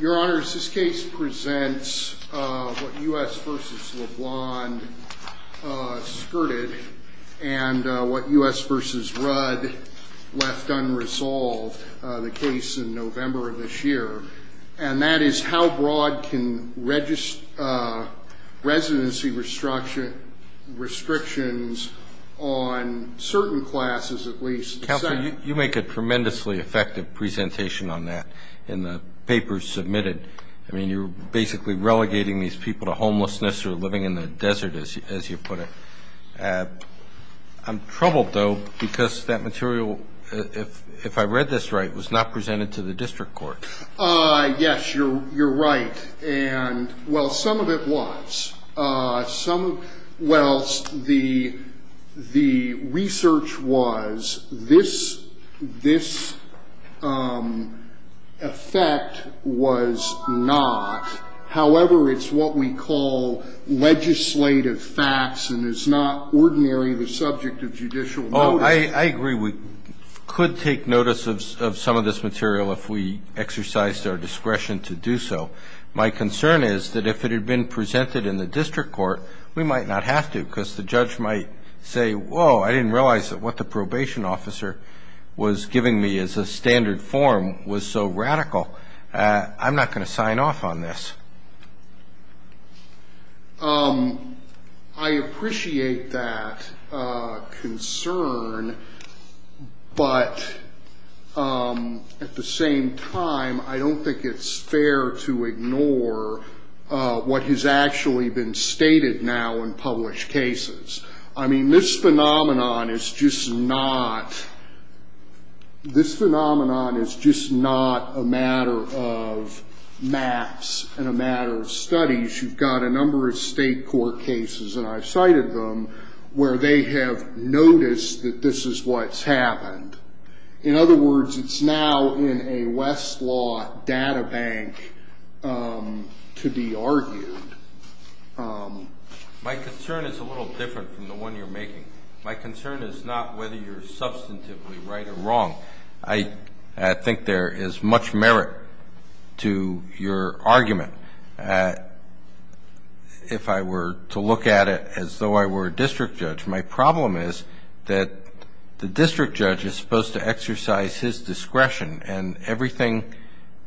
Your Honor, this case presents what U.S. v. LeBlanc skirted and what U.S. v. Rudd left unresolved, the case in November of this year. And that is how broad can residency restrictions on certain classes at least... You make a tremendously effective presentation on that in the papers submitted. I mean, you're basically relegating these people to homelessness or living in the desert, as you put it. I'm troubled, though, because that material, if I read this right, was not presented to the district court. Yes, you're right. And, well, some of it was. Well, the research was this effect was not. However, it's what we call legislative facts, and it's not ordinarily the subject of judicial notice. I agree we could take notice of some of this material if we exercised our discretion to do so. My concern is that if it had been presented in the district court, we might not have to because the judge might say, whoa, I didn't realize that what the probation officer was giving me as a standard form was so radical. I'm not going to sign off on this. I appreciate that concern, but at the same time, I don't think it's fair to ignore what has actually been stated now in published cases. I mean, this phenomenon is just not a matter of maps and a matter of studies. You've got a number of state court cases, and I've cited them, where they have noticed that this is what's happened. In other words, it's now in a Westlaw data bank to be argued. My concern is a little different from the one you're making. My concern is not whether you're substantively right or wrong. I think there is much merit to your argument. If I were to look at it as though I were a district judge, my problem is that the district judge is supposed to exercise his discretion, and everything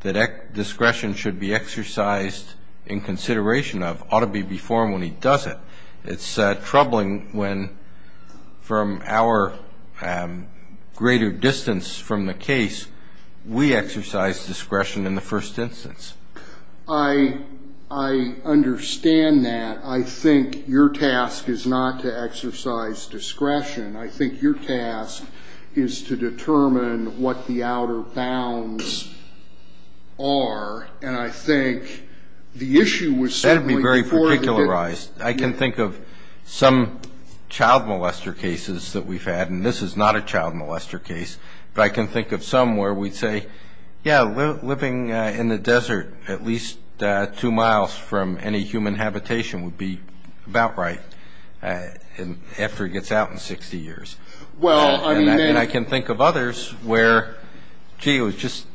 that discretion should be exercised in consideration of ought to be performed when he does it. It's troubling when, from our greater distance from the case, we exercise discretion in the first instance. I understand that. I think your task is not to exercise discretion. I think your task is to determine what the outer bounds are, and I think the issue was certainly before the district. That would be very particularized. I can think of some child molester cases that we've had, and this is not a child molester case, but I can think of some where we'd say, yeah, living in the desert at least two miles from any human habitation would be about right, after he gets out in 60 years. And I can think of others where, gee, it was just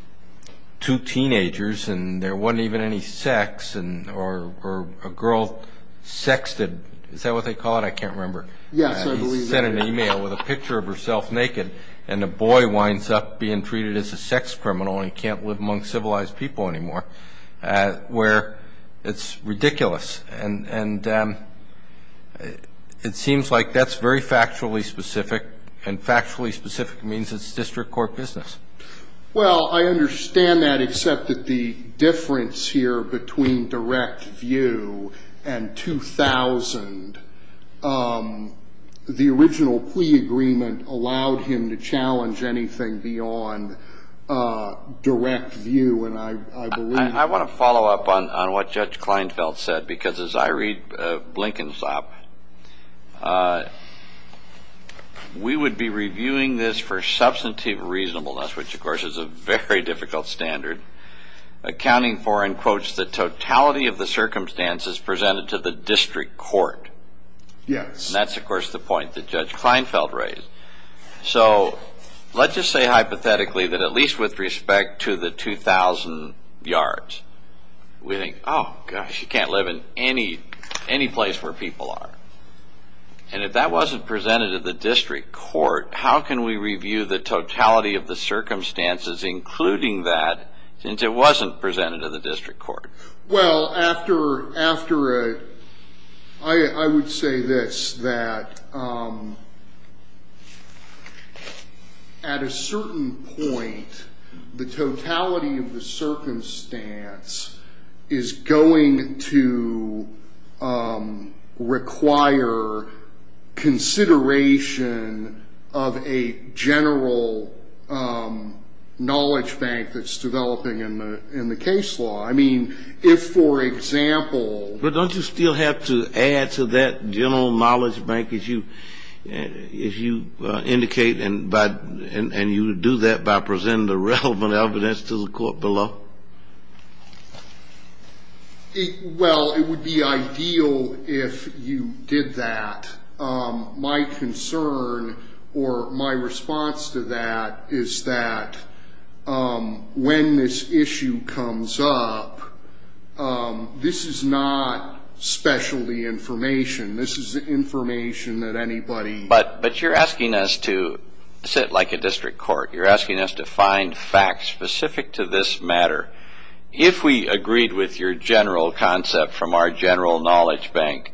two teenagers, and there wasn't even any sex, or a girl sexted. Is that what they call it? I can't remember. Yes, I believe that. He sent an email with a picture of herself naked, and the boy winds up being treated as a sex criminal, and he can't live among civilized people anymore, where it's ridiculous. And it seems like that's very factually specific, and factually specific means it's district court business. Well, I understand that, except that the difference here between direct view and 2000, the original plea agreement allowed him to challenge anything beyond direct view. I want to follow up on what Judge Kleinfeld said, because as I read Blinken's op, we would be reviewing this for substantive reasonableness, which, of course, is a very difficult standard, accounting for, in quotes, the totality of the circumstances presented to the district court. Yes. And that's, of course, the point that Judge Kleinfeld raised. So let's just say hypothetically that at least with respect to the 2000 yards, we think, oh, gosh, you can't live in any place where people are. And if that wasn't presented to the district court, how can we review the totality of the circumstances, including that, since it wasn't presented to the district court? Well, after I would say this, that at a certain point, the totality of the circumstance is going to require consideration of a general knowledge bank that's developing in the case law. I mean, if, for example. But don't you still have to add to that general knowledge bank, as you indicate, and you do that by presenting the relevant evidence to the court below? Well, it would be ideal if you did that. My concern or my response to that is that when this issue comes up, this is not specialty information. This is information that anybody. But you're asking us to sit like a district court. You're asking us to find facts specific to this matter. If we agreed with your general concept from our general knowledge bank,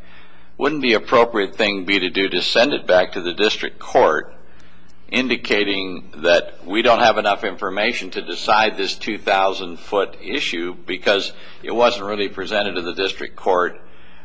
wouldn't the appropriate thing be to do to send it back to the district court, indicating that we don't have enough information to decide this 2,000-foot issue because it wasn't really presented to the district court?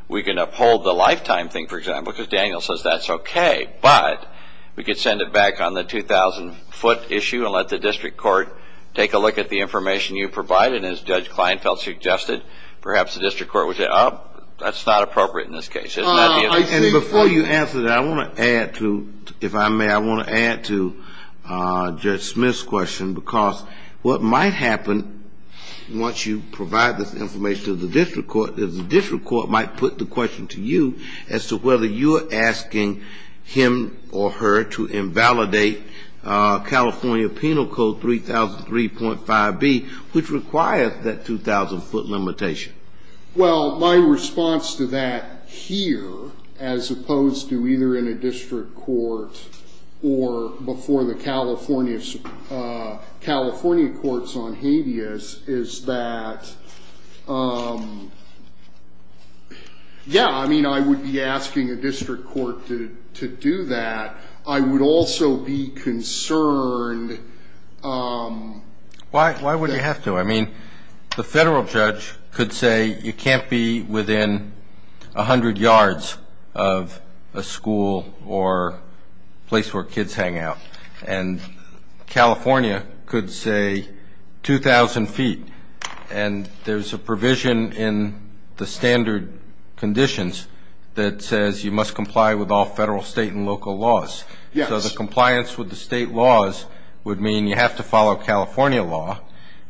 We can uphold the lifetime thing, for example, because Daniel says that's okay. But we could send it back on the 2,000-foot issue and let the district court take a look at the information you provided, as Judge Kleinfeld suggested. Perhaps the district court would say, oh, that's not appropriate in this case. And before you answer that, I want to add to, if I may, I want to add to Judge Smith's question, because what might happen once you provide this information to the district court is the district court might put the question to you as to whether you're asking him or her to invalidate California Penal Code 3003.5b, which requires that 2,000-foot limitation. Well, my response to that here, as opposed to either in a district court or before the California courts on habeas, is that, yeah, I mean, I wouldn't be asking a district court to do that. I would also be concerned. Why would you have to? I mean, the federal judge could say you can't be within 100 yards of a school or place where kids hang out. And California could say 2,000 feet. And there's a provision in the standard conditions that says you must comply with all federal, state, and local laws. So the compliance with the state laws would mean you have to follow California law.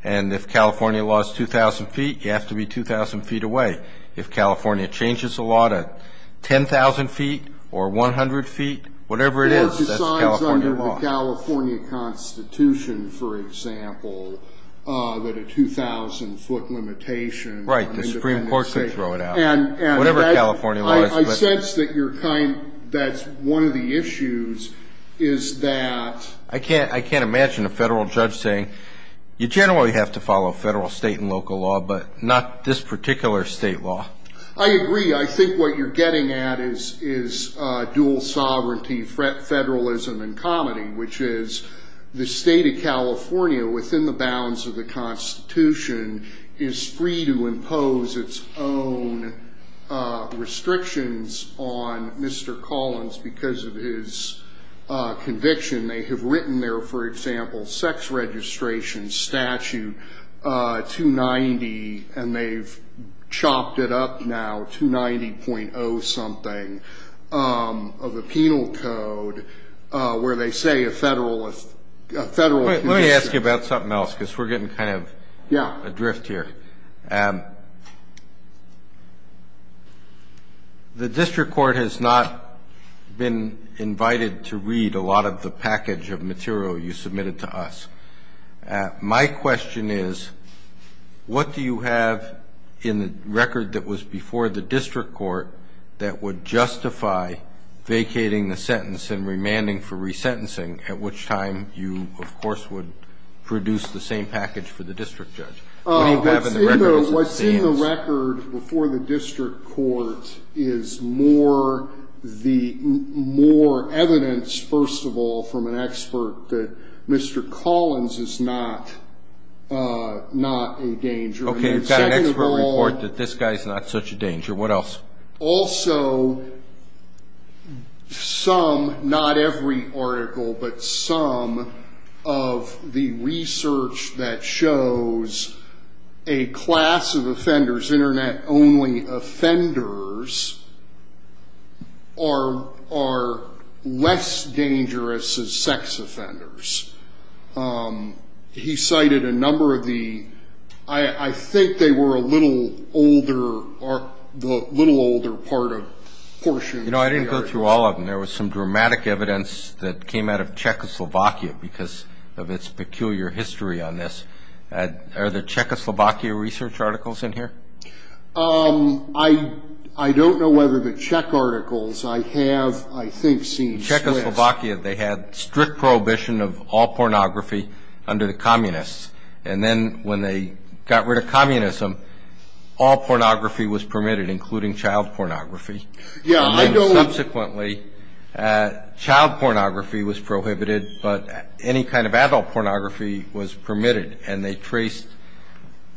And if California law is 2,000 feet, you have to be 2,000 feet away. If California changes the law to 10,000 feet or 100 feet, whatever it is, that's California law. It's under the California Constitution, for example, that a 2,000-foot limitation on independent safety. Right, the Supreme Court could throw it out, whatever California law is. I sense that that's one of the issues, is that... I can't imagine a federal judge saying, you generally have to follow federal, state, and local law, but not this particular state law. I agree. I think what you're getting at is dual sovereignty, federalism, and comedy, which is the state of California, within the bounds of the Constitution, is free to impose its own restrictions on Mr. Collins because of his conviction. They have written their, for example, sex registration statute 290, and they've chopped it up now, 290.0-something, of a penal code where they say a federal... Let me ask you about something else because we're getting kind of adrift here. Yeah. The district court has not been invited to read a lot of the package of material you submitted to us. My question is, what do you have in the record that was before the district court that would justify vacating the sentence and remanding for resentencing, at which time you, of course, would produce the same package for the district judge? What do you have in the record as it stands? What's in the record before the district court is more the more evidence, first of all, from an expert that Mr. Collins is not a danger? Okay, you've got an expert report that this guy is not such a danger. What else? Also, some, not every article, but some of the research that shows a class of offenders, Internet-only offenders, are less dangerous as sex offenders. He cited a number of the, I think they were a little older part of portions... You know, I didn't go through all of them. There was some dramatic evidence that came out of Czechoslovakia because of its peculiar history on this. Are there Czechoslovakia research articles in here? I don't know whether the Czech articles... I have, I think, seen Swiss... Czechoslovakia, they had strict prohibition of all pornography under the communists, and then when they got rid of communism, all pornography was permitted, including child pornography. Yeah, I don't... Subsequently, child pornography was prohibited, but any kind of adult pornography was permitted, and they traced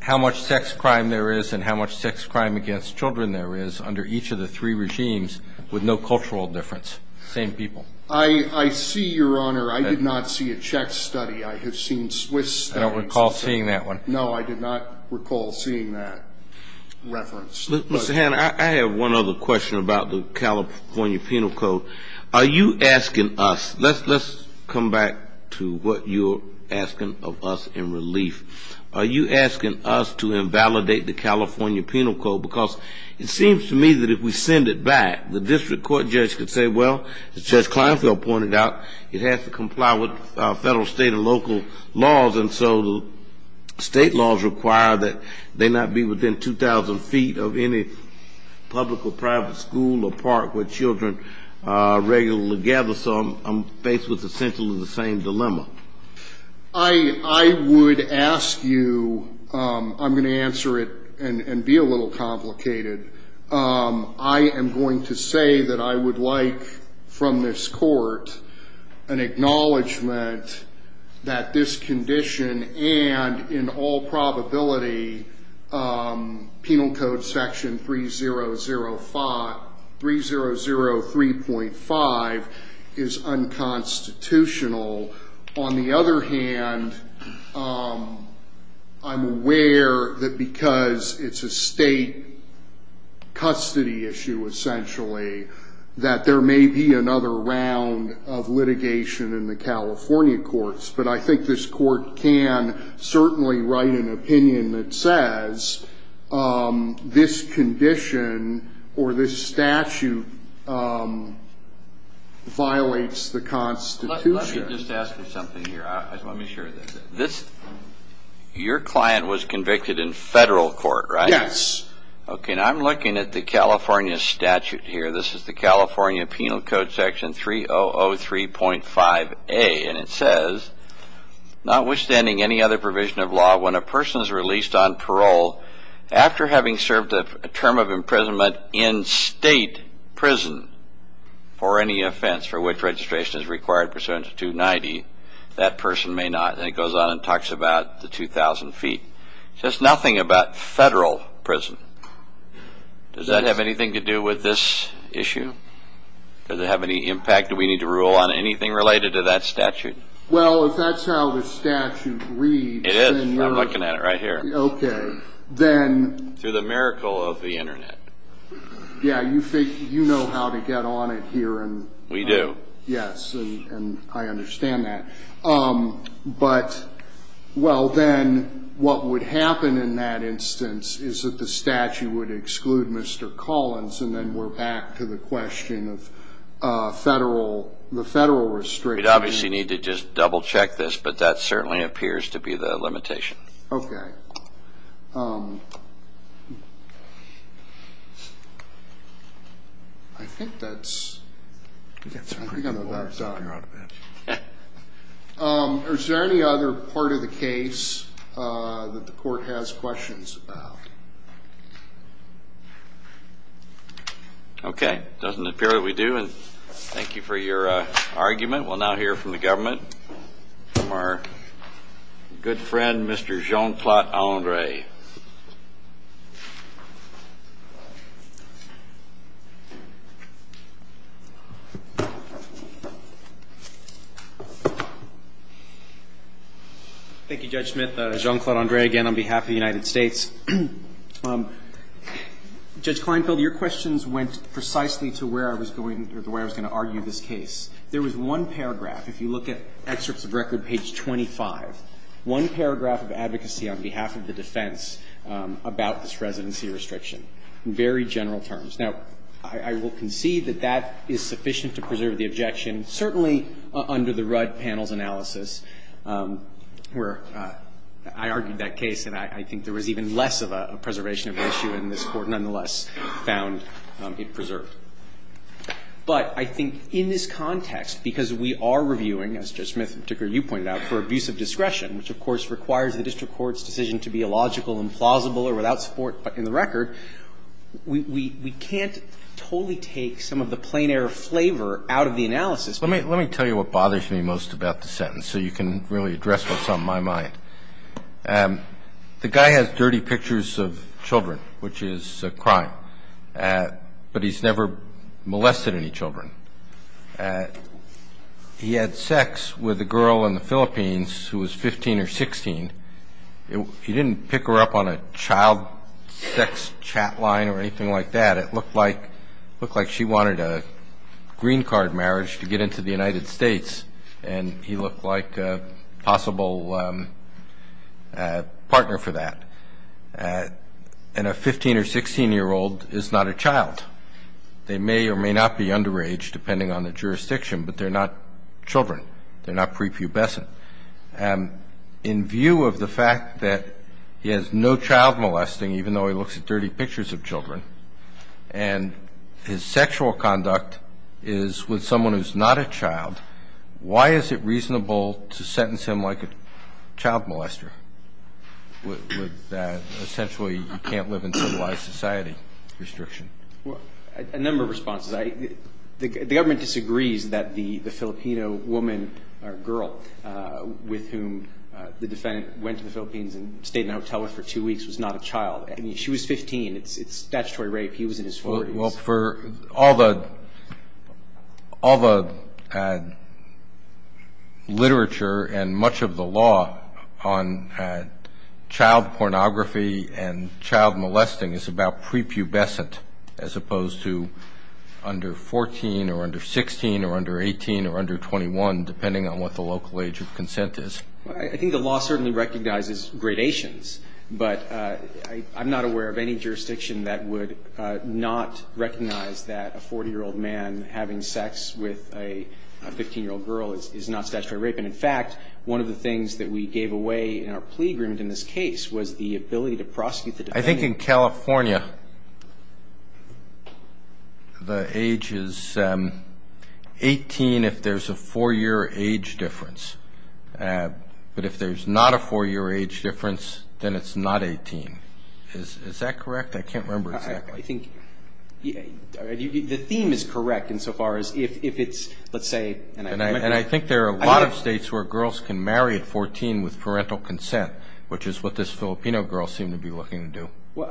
how much sex crime there is and how much sex crime against children there is under each of the three regimes with no cultural difference. Same people. I see, Your Honor. I did not see a Czech study. I have seen Swiss... I don't recall seeing that one. No, I did not recall seeing that reference. Mr. Hanna, I have one other question about the California Penal Code. Are you asking us... Let's come back to what you're asking of us in relief. Are you asking us to invalidate the California Penal Code, because it seems to me that if we send it back, the district court judge could say, well, as Judge Kleinfeld pointed out, it has to comply with federal, state, and local laws, and so state laws require that they not be within 2,000 feet of any public or private school or park where children regularly gather. So I'm faced with essentially the same dilemma. I would ask you... I'm going to answer it and be a little complicated. I am going to say that I would like from this court an acknowledgement that this condition and, in all probability, Penal Code Section 3003.5 is unconstitutional. On the other hand, I'm aware that because it's a state custody issue, essentially, that there may be another round of litigation in the California courts, but I think this court can certainly write an opinion that says this condition or this statute violates the Constitution. Let me just ask you something here. Let me share this. Your client was convicted in federal court, right? Yes. Okay, and I'm looking at the California statute here. This is the California Penal Code Section 3003.5a, and it says, notwithstanding any other provision of law, when a person is released on parole after having served a term of imprisonment in state prison for any offense for which registration is required pursuant to 290, that person may not. And it goes on and talks about the 2,000 feet. It says nothing about federal prison. Does that have anything to do with this issue? Does it have any impact? Do we need to rule on anything related to that statute? Well, if that's how the statute reads. It is. I'm looking at it right here. Okay. Then. Through the miracle of the Internet. Yeah, you know how to get on it here. We do. Yes, and I understand that. But, well, then what would happen in that instance is that the statute would exclude Mr. Collins, and then we're back to the question of the federal restriction. We'd obviously need to just double-check this, but that certainly appears to be the limitation. Okay. I think that's pretty much all I've got. Is there any other part of the case that the court has questions about? Okay. It doesn't appear that we do. And thank you for your argument. We'll now hear from the government, from our good friend, Mr. Jean-Claude Andre. Thank you, Judge Smith. Jean-Claude Andre again on behalf of the United States. Judge Kleinfeld, your questions went precisely to where I was going to argue this case. There was one paragraph, if you look at excerpts of record, page 25, one paragraph of advocacy on behalf of the defense about this residency restriction, in very general terms. Now, I will concede that that is sufficient to preserve the objection, certainly under the Rudd panel's analysis, where I argued that case, and I think there was even less of a preservation of the issue, and this Court nonetheless found it preserved. But I think in this context, because we are reviewing, as Judge Smith in particular you pointed out, for abuse of discretion, which, of course, requires the district court's decision to be illogical, implausible, or without support in the record, we can't totally take some of the plein air flavor out of the analysis. Let me tell you what bothers me most about the sentence so you can really address what's on my mind. The guy has dirty pictures of children, which is a crime. But he's never molested any children. He had sex with a girl in the Philippines who was 15 or 16. He didn't pick her up on a child sex chat line or anything like that. It looked like she wanted a green card marriage to get into the United States, and he looked like a possible partner for that. And a 15- or 16-year-old is not a child. They may or may not be underage, depending on the jurisdiction, but they're not children. They're not prepubescent. In view of the fact that he has no child molesting, even though he looks at dirty pictures of children, and his sexual conduct is with someone who's not a child, why is it reasonable to sentence him like a child molester? Essentially, you can't live in civilized society restriction. A number of responses. The government disagrees that the Filipino woman or girl with whom the defendant went to the Philippines and stayed in a hotel with for two weeks was not a child. I mean, she was 15. It's statutory rape. He was in his 40s. Well, for all the literature and much of the law on child pornography and child molesting is about prepubescent as opposed to under 14 or under 16 or under 18 or under 21, depending on what the local age of consent is. I think the law certainly recognizes gradations, but I'm not aware of any jurisdiction that would not recognize that a 40-year-old man having sex with a 15-year-old girl is not statutory rape. And, in fact, one of the things that we gave away in our plea agreement in this case was the ability to prosecute the defendant. I think in California, the age is 18 if there's a four-year age difference. But if there's not a four-year age difference, then it's not 18. Is that correct? I can't remember exactly. I think the theme is correct insofar as if it's, let's say. And I think there are a lot of states where girls can marry at 14 with parental consent, which is what this Filipino girl seemed to be looking to do.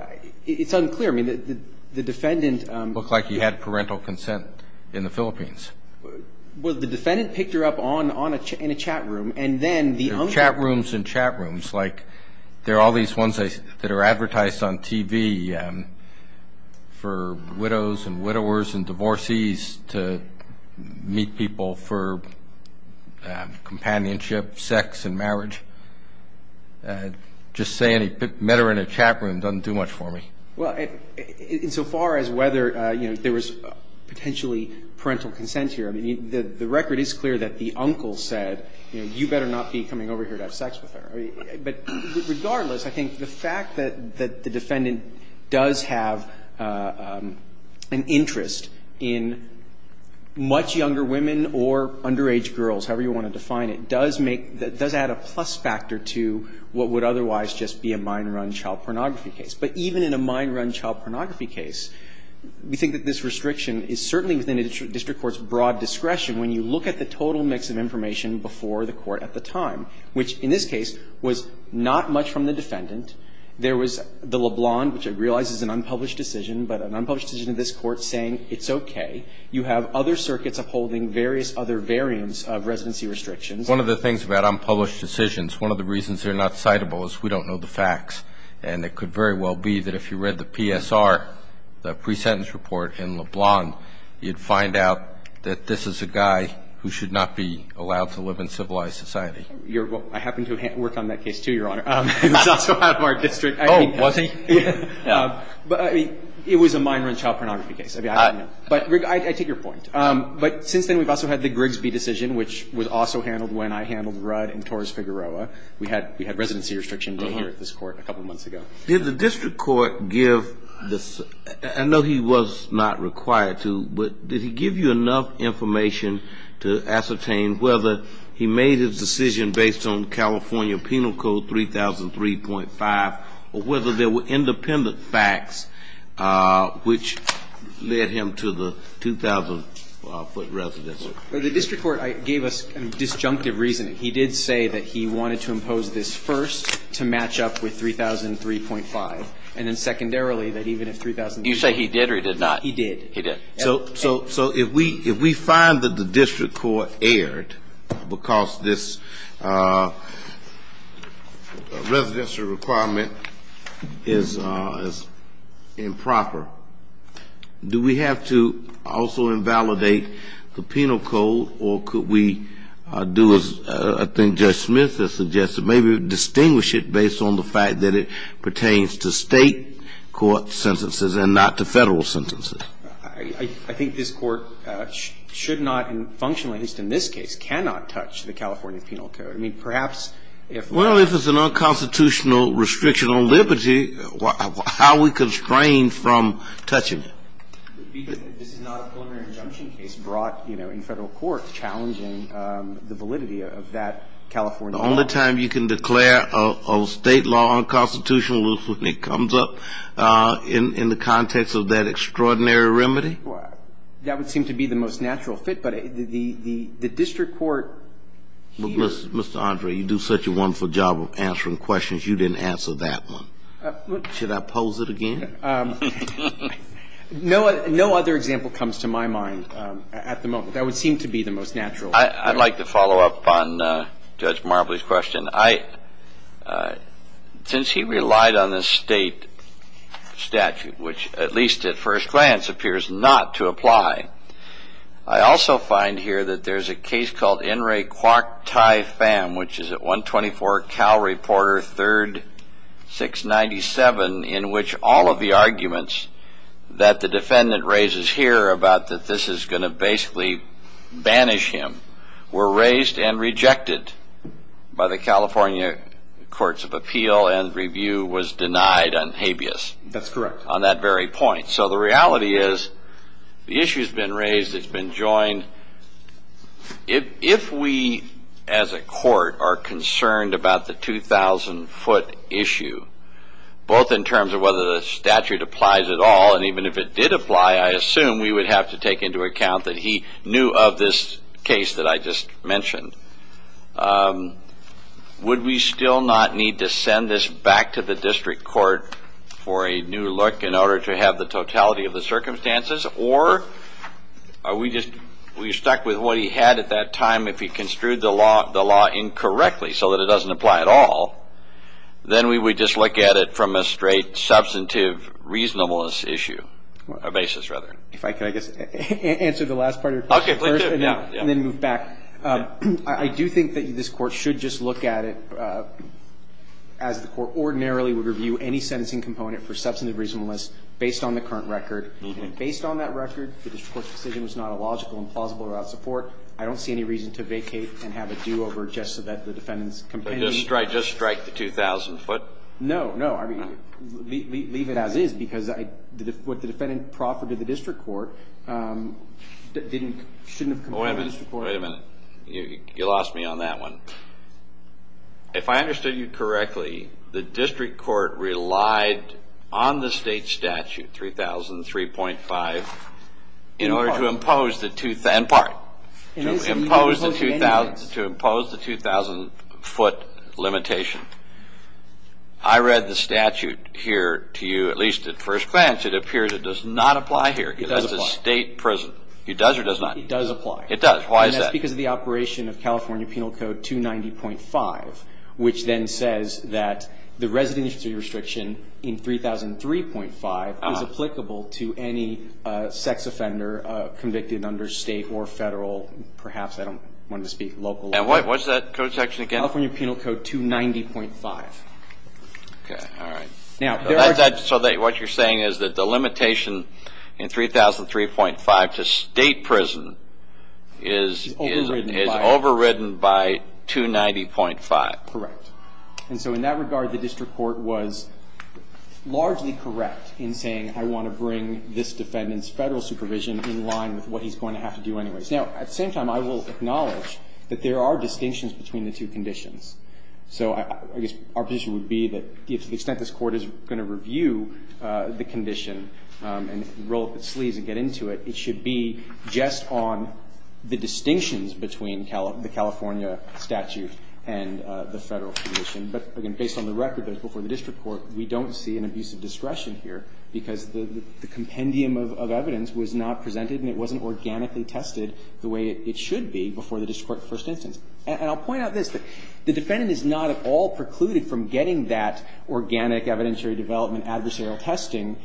It's unclear. I mean, the defendant. Looked like he had parental consent in the Philippines. Well, the defendant picked her up in a chat room, and then the... Chat rooms and chat rooms. Like there are all these ones that are advertised on TV for widows and widowers and divorcees to meet people for companionship, sex, and marriage. Just saying he met her in a chat room doesn't do much for me. Well, insofar as whether, you know, there was potentially parental consent here, I mean, the record is clear that the uncle said, you know, you better not be coming over here to have sex with her. But regardless, I think the fact that the defendant does have an interest in much younger women or underage girls, however you want to define it, does add a plus factor to what would otherwise just be a minor on child pornography case. But even in a minor on child pornography case, we think that this restriction is certainly within a district court's broad discretion when you look at the total mix of information before the court at the time, which in this case was not much from the defendant. There was the LeBlanc, which I realize is an unpublished decision, but an unpublished decision of this court saying it's okay. You have other circuits upholding various other variants of residency restrictions. One of the things about unpublished decisions, one of the reasons they're not citable is we don't know the facts, and it could very well be that if you read the PSR, the pre-sentence report in LeBlanc, you'd find out that this is a guy who should not be allowed to live in civilized society. I happen to have worked on that case, too, Your Honor. It was also out of our district. Oh, was he? It was a minor on child pornography case. I mean, I don't know. But, Rick, I take your point. But since then we've also had the Grigsby decision, which was also handled when I handled Rudd and Torres-Figueroa. We had residency restriction here at this court a couple months ago. Did the district court give the – I know he was not required to, but did he give you enough information to ascertain whether he made his decision based on California Penal Code 3003.5 or whether there were independent facts which led him to the 2,000-foot residency? The district court gave us a disjunctive reasoning. He did say that he wanted to impose this first to match up with 3003.5, and then secondarily that even if 3003.5 – Did you say he did or he did not? He did. He did. So if we find that the district court erred because this residency requirement is improper, do we have to also invalidate the penal code, or could we do as I think Judge Smith has suggested, maybe distinguish it based on the fact that it pertains to State court sentences and not to Federal sentences? I think this Court should not and functionally, at least in this case, cannot touch the California Penal Code. I mean, perhaps if we're – I don't know. Touching it. This is not a preliminary injunction case brought in Federal court challenging the validity of that California law. The only time you can declare a State law unconstitutional is when it comes up in the context of that extraordinary remedy? That would seem to be the most natural fit, but the district court here – Mr. Andre, you do such a wonderful job of answering questions. You didn't answer that one. Should I pose it again? No other example comes to my mind at the moment. That would seem to be the most natural fit. I'd like to follow up on Judge Marbley's question. I – since he relied on the State statute, which at least at first glance appears not to apply, I also find here that there's a case called N. Ray Kwok Thai Pham, which is at 124 Cal Reporter 3rd, 697, in which all of the arguments that the defendant raises here about that this is going to basically banish him were raised and rejected by the California Courts of Appeal and review was denied on habeas. That's correct. On that very point. So the reality is the issue's been raised, it's been joined. If we as a court are concerned about the 2,000-foot issue, both in terms of whether the statute applies at all, and even if it did apply, I assume we would have to take into account that he knew of this case that I just mentioned, would we still not need to send this back to the district court for a new look in order to have the totality of the circumstances? Or are we just – are we stuck with what he had at that time if he construed the law incorrectly so that it doesn't apply at all? Then we would just look at it from a straight substantive reasonableness issue – basis, rather. If I could, I guess, answer the last part of your question first and then move back. I do think that this Court should just look at it as the Court ordinarily would review any sentencing component for substantive reasonableness based on the current record. And based on that record, the district court's decision was not illogical and plausible without support. I don't see any reason to vacate and have it due over just so that the defendant's – Just strike the 2,000-foot? No, no. I mean, leave it as is because what the defendant proffered to the district court shouldn't have come to the district court. Wait a minute. You lost me on that one. If I understood you correctly, the district court relied on the state statute, 3003.5, in order to impose the 2,000-foot limitation. I read the statute here to you, at least at first glance. It appears it does not apply here. It does apply. It's a state prison. It does or does not? It does apply. It does. Why is that? That's because of the operation of California Penal Code 290.5, which then says that the residency restriction in 3003.5 is applicable to any sex offender convicted under state or federal, perhaps I don't want to speak, local law. And what's that code section again? California Penal Code 290.5. Okay, all right. So what you're saying is that the limitation in 3003.5 to state prison is overridden by 290.5. Correct. And so in that regard, the district court was largely correct in saying, I want to bring this defendant's federal supervision in line with what he's going to have to do anyways. Now, at the same time, I will acknowledge that there are distinctions between the two conditions. So I guess our position would be that to the extent this Court is going to review the condition and roll up its sleeves and get into it, it should be just on the distinctions between the California statute and the federal condition. But again, based on the record that was before the district court, we don't see an abuse of discretion here because the compendium of evidence was not presented and it wasn't organically tested the way it should be before the district court first instance. And I'll point out this, that the defendant is not at all precluded from getting that organic evidentiary development adversarial testing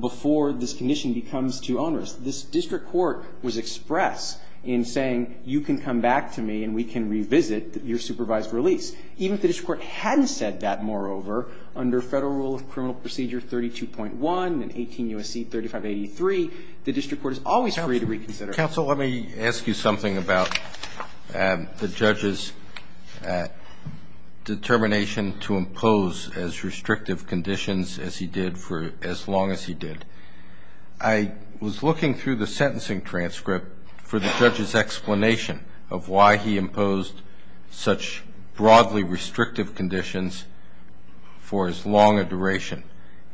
before this condition becomes too onerous. This district court was express in saying you can come back to me and we can revisit your supervised release. Even if the district court hadn't said that, moreover, under Federal Rule of Criminal Procedure 32.1 and 18 U.S.C. 3583, the district court is always free to reconsider. I'm going to turn it over to counsel. Let me ask you something about the judge's determination to impose as restrictive conditions as he did for as long as he did. I was looking through the sentencing transcript for the judge's explanation of why he imposed such broadly restrictive conditions for as long a duration.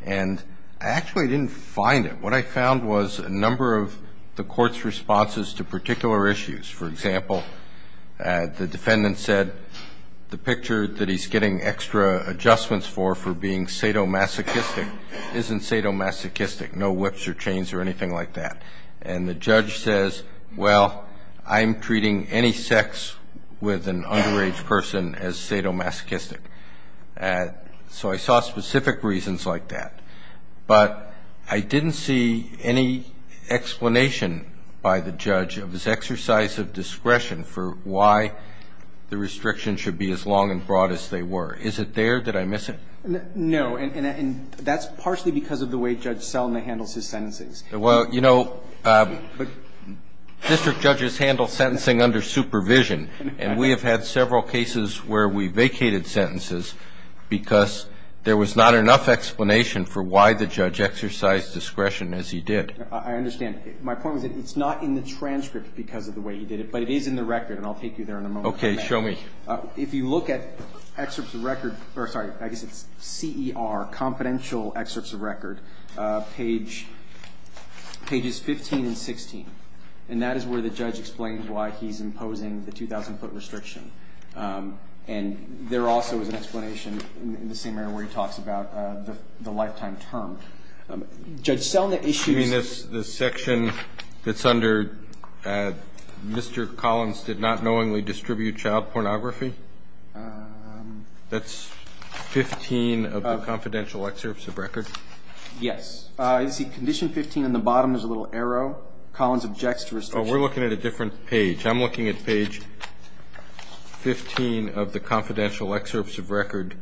And I actually didn't find it. What I found was a number of the court's responses to particular issues. For example, the defendant said the picture that he's getting extra adjustments for for being sadomasochistic isn't sadomasochistic, no whips or chains or anything like that. And the judge says, well, I'm treating any sex with an underage person as sadomasochistic. So I saw specific reasons like that. But I didn't see any explanation by the judge of his exercise of discretion for why the restriction should be as long and broad as they were. Is it there? Did I miss it? No. And that's partially because of the way Judge Selma handles his sentences. Well, you know, district judges handle sentencing under supervision. And we have had several cases where we vacated sentences because there was not enough explanation for why the judge exercised discretion as he did. I understand. My point was that it's not in the transcript because of the way he did it, but it is in the record, and I'll take you there in a moment. Okay, show me. If you look at excerpts of record or, sorry, I guess it's CER, confidential excerpts of record, pages 15 and 16. And that is where the judge explains why he's imposing the 2,000-foot restriction. And there also is an explanation in the same area where he talks about the lifetime term. Judge Selma issues the section that's under Mr. Collins did not knowingly distribute child pornography. That's 15 of the confidential excerpts of record. Yes. You see condition 15 on the bottom. There's a little arrow. Collins objects to restriction. Oh, we're looking at a different page. I'm looking at page 15 of the confidential excerpts of record.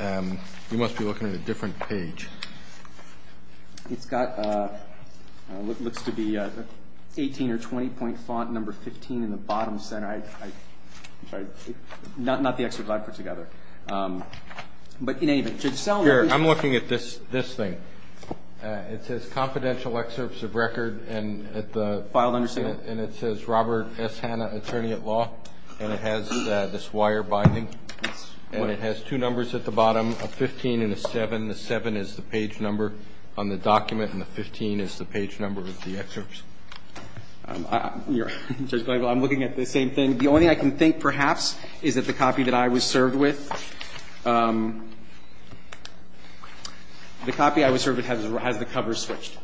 You must be looking at a different page. It's got what looks to be 18 or 20-point font, number 15 in the bottom center. I'm sorry. Not the excerpt I put together. But in any event, Judge Selma. Here, I'm looking at this thing. It says confidential excerpts of record. Filed under CER. And it says Robert S. Hanna, attorney at law. And it has this wire binding. And it has two numbers at the bottom, a 15 and a 7. The 7 is the page number on the document, and the 15 is the page number of the excerpts. I'm looking at the same thing. The only thing I can think, perhaps, is that the copy that I was served with, the copy I was served with has the cover switched.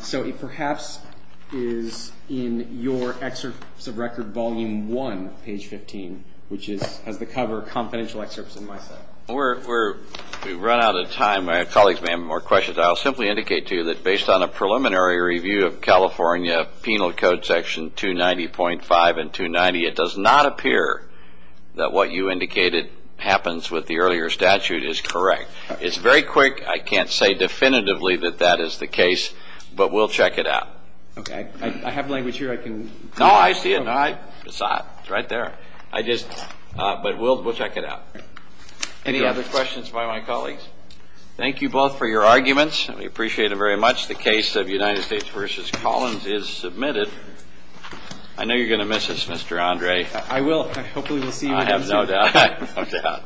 So it perhaps is in your excerpts of record volume 1, page 15, which has the cover confidential excerpts in my set. We've run out of time. Colleagues may have more questions. I'll simply indicate to you that based on a preliminary review of California Penal Code section 290.5 and 290, it does not appear that what you indicated happens with the earlier statute is correct. It's very quick. I can't say definitively that that is the case, but we'll check it out. Okay. I have language here. No, I see it. It's right there. But we'll check it out. Any other questions by my colleagues? Thank you both for your arguments. We appreciate it very much. The case of United States v. Collins is submitted. I know you're going to miss us, Mr. Andre. I will. Hopefully we'll see you again soon. I have no doubt.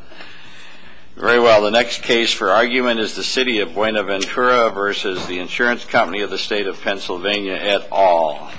Very well. The next case for argument is the City of Buena Ventura v. The Insurance Company of the State of Pennsylvania et al.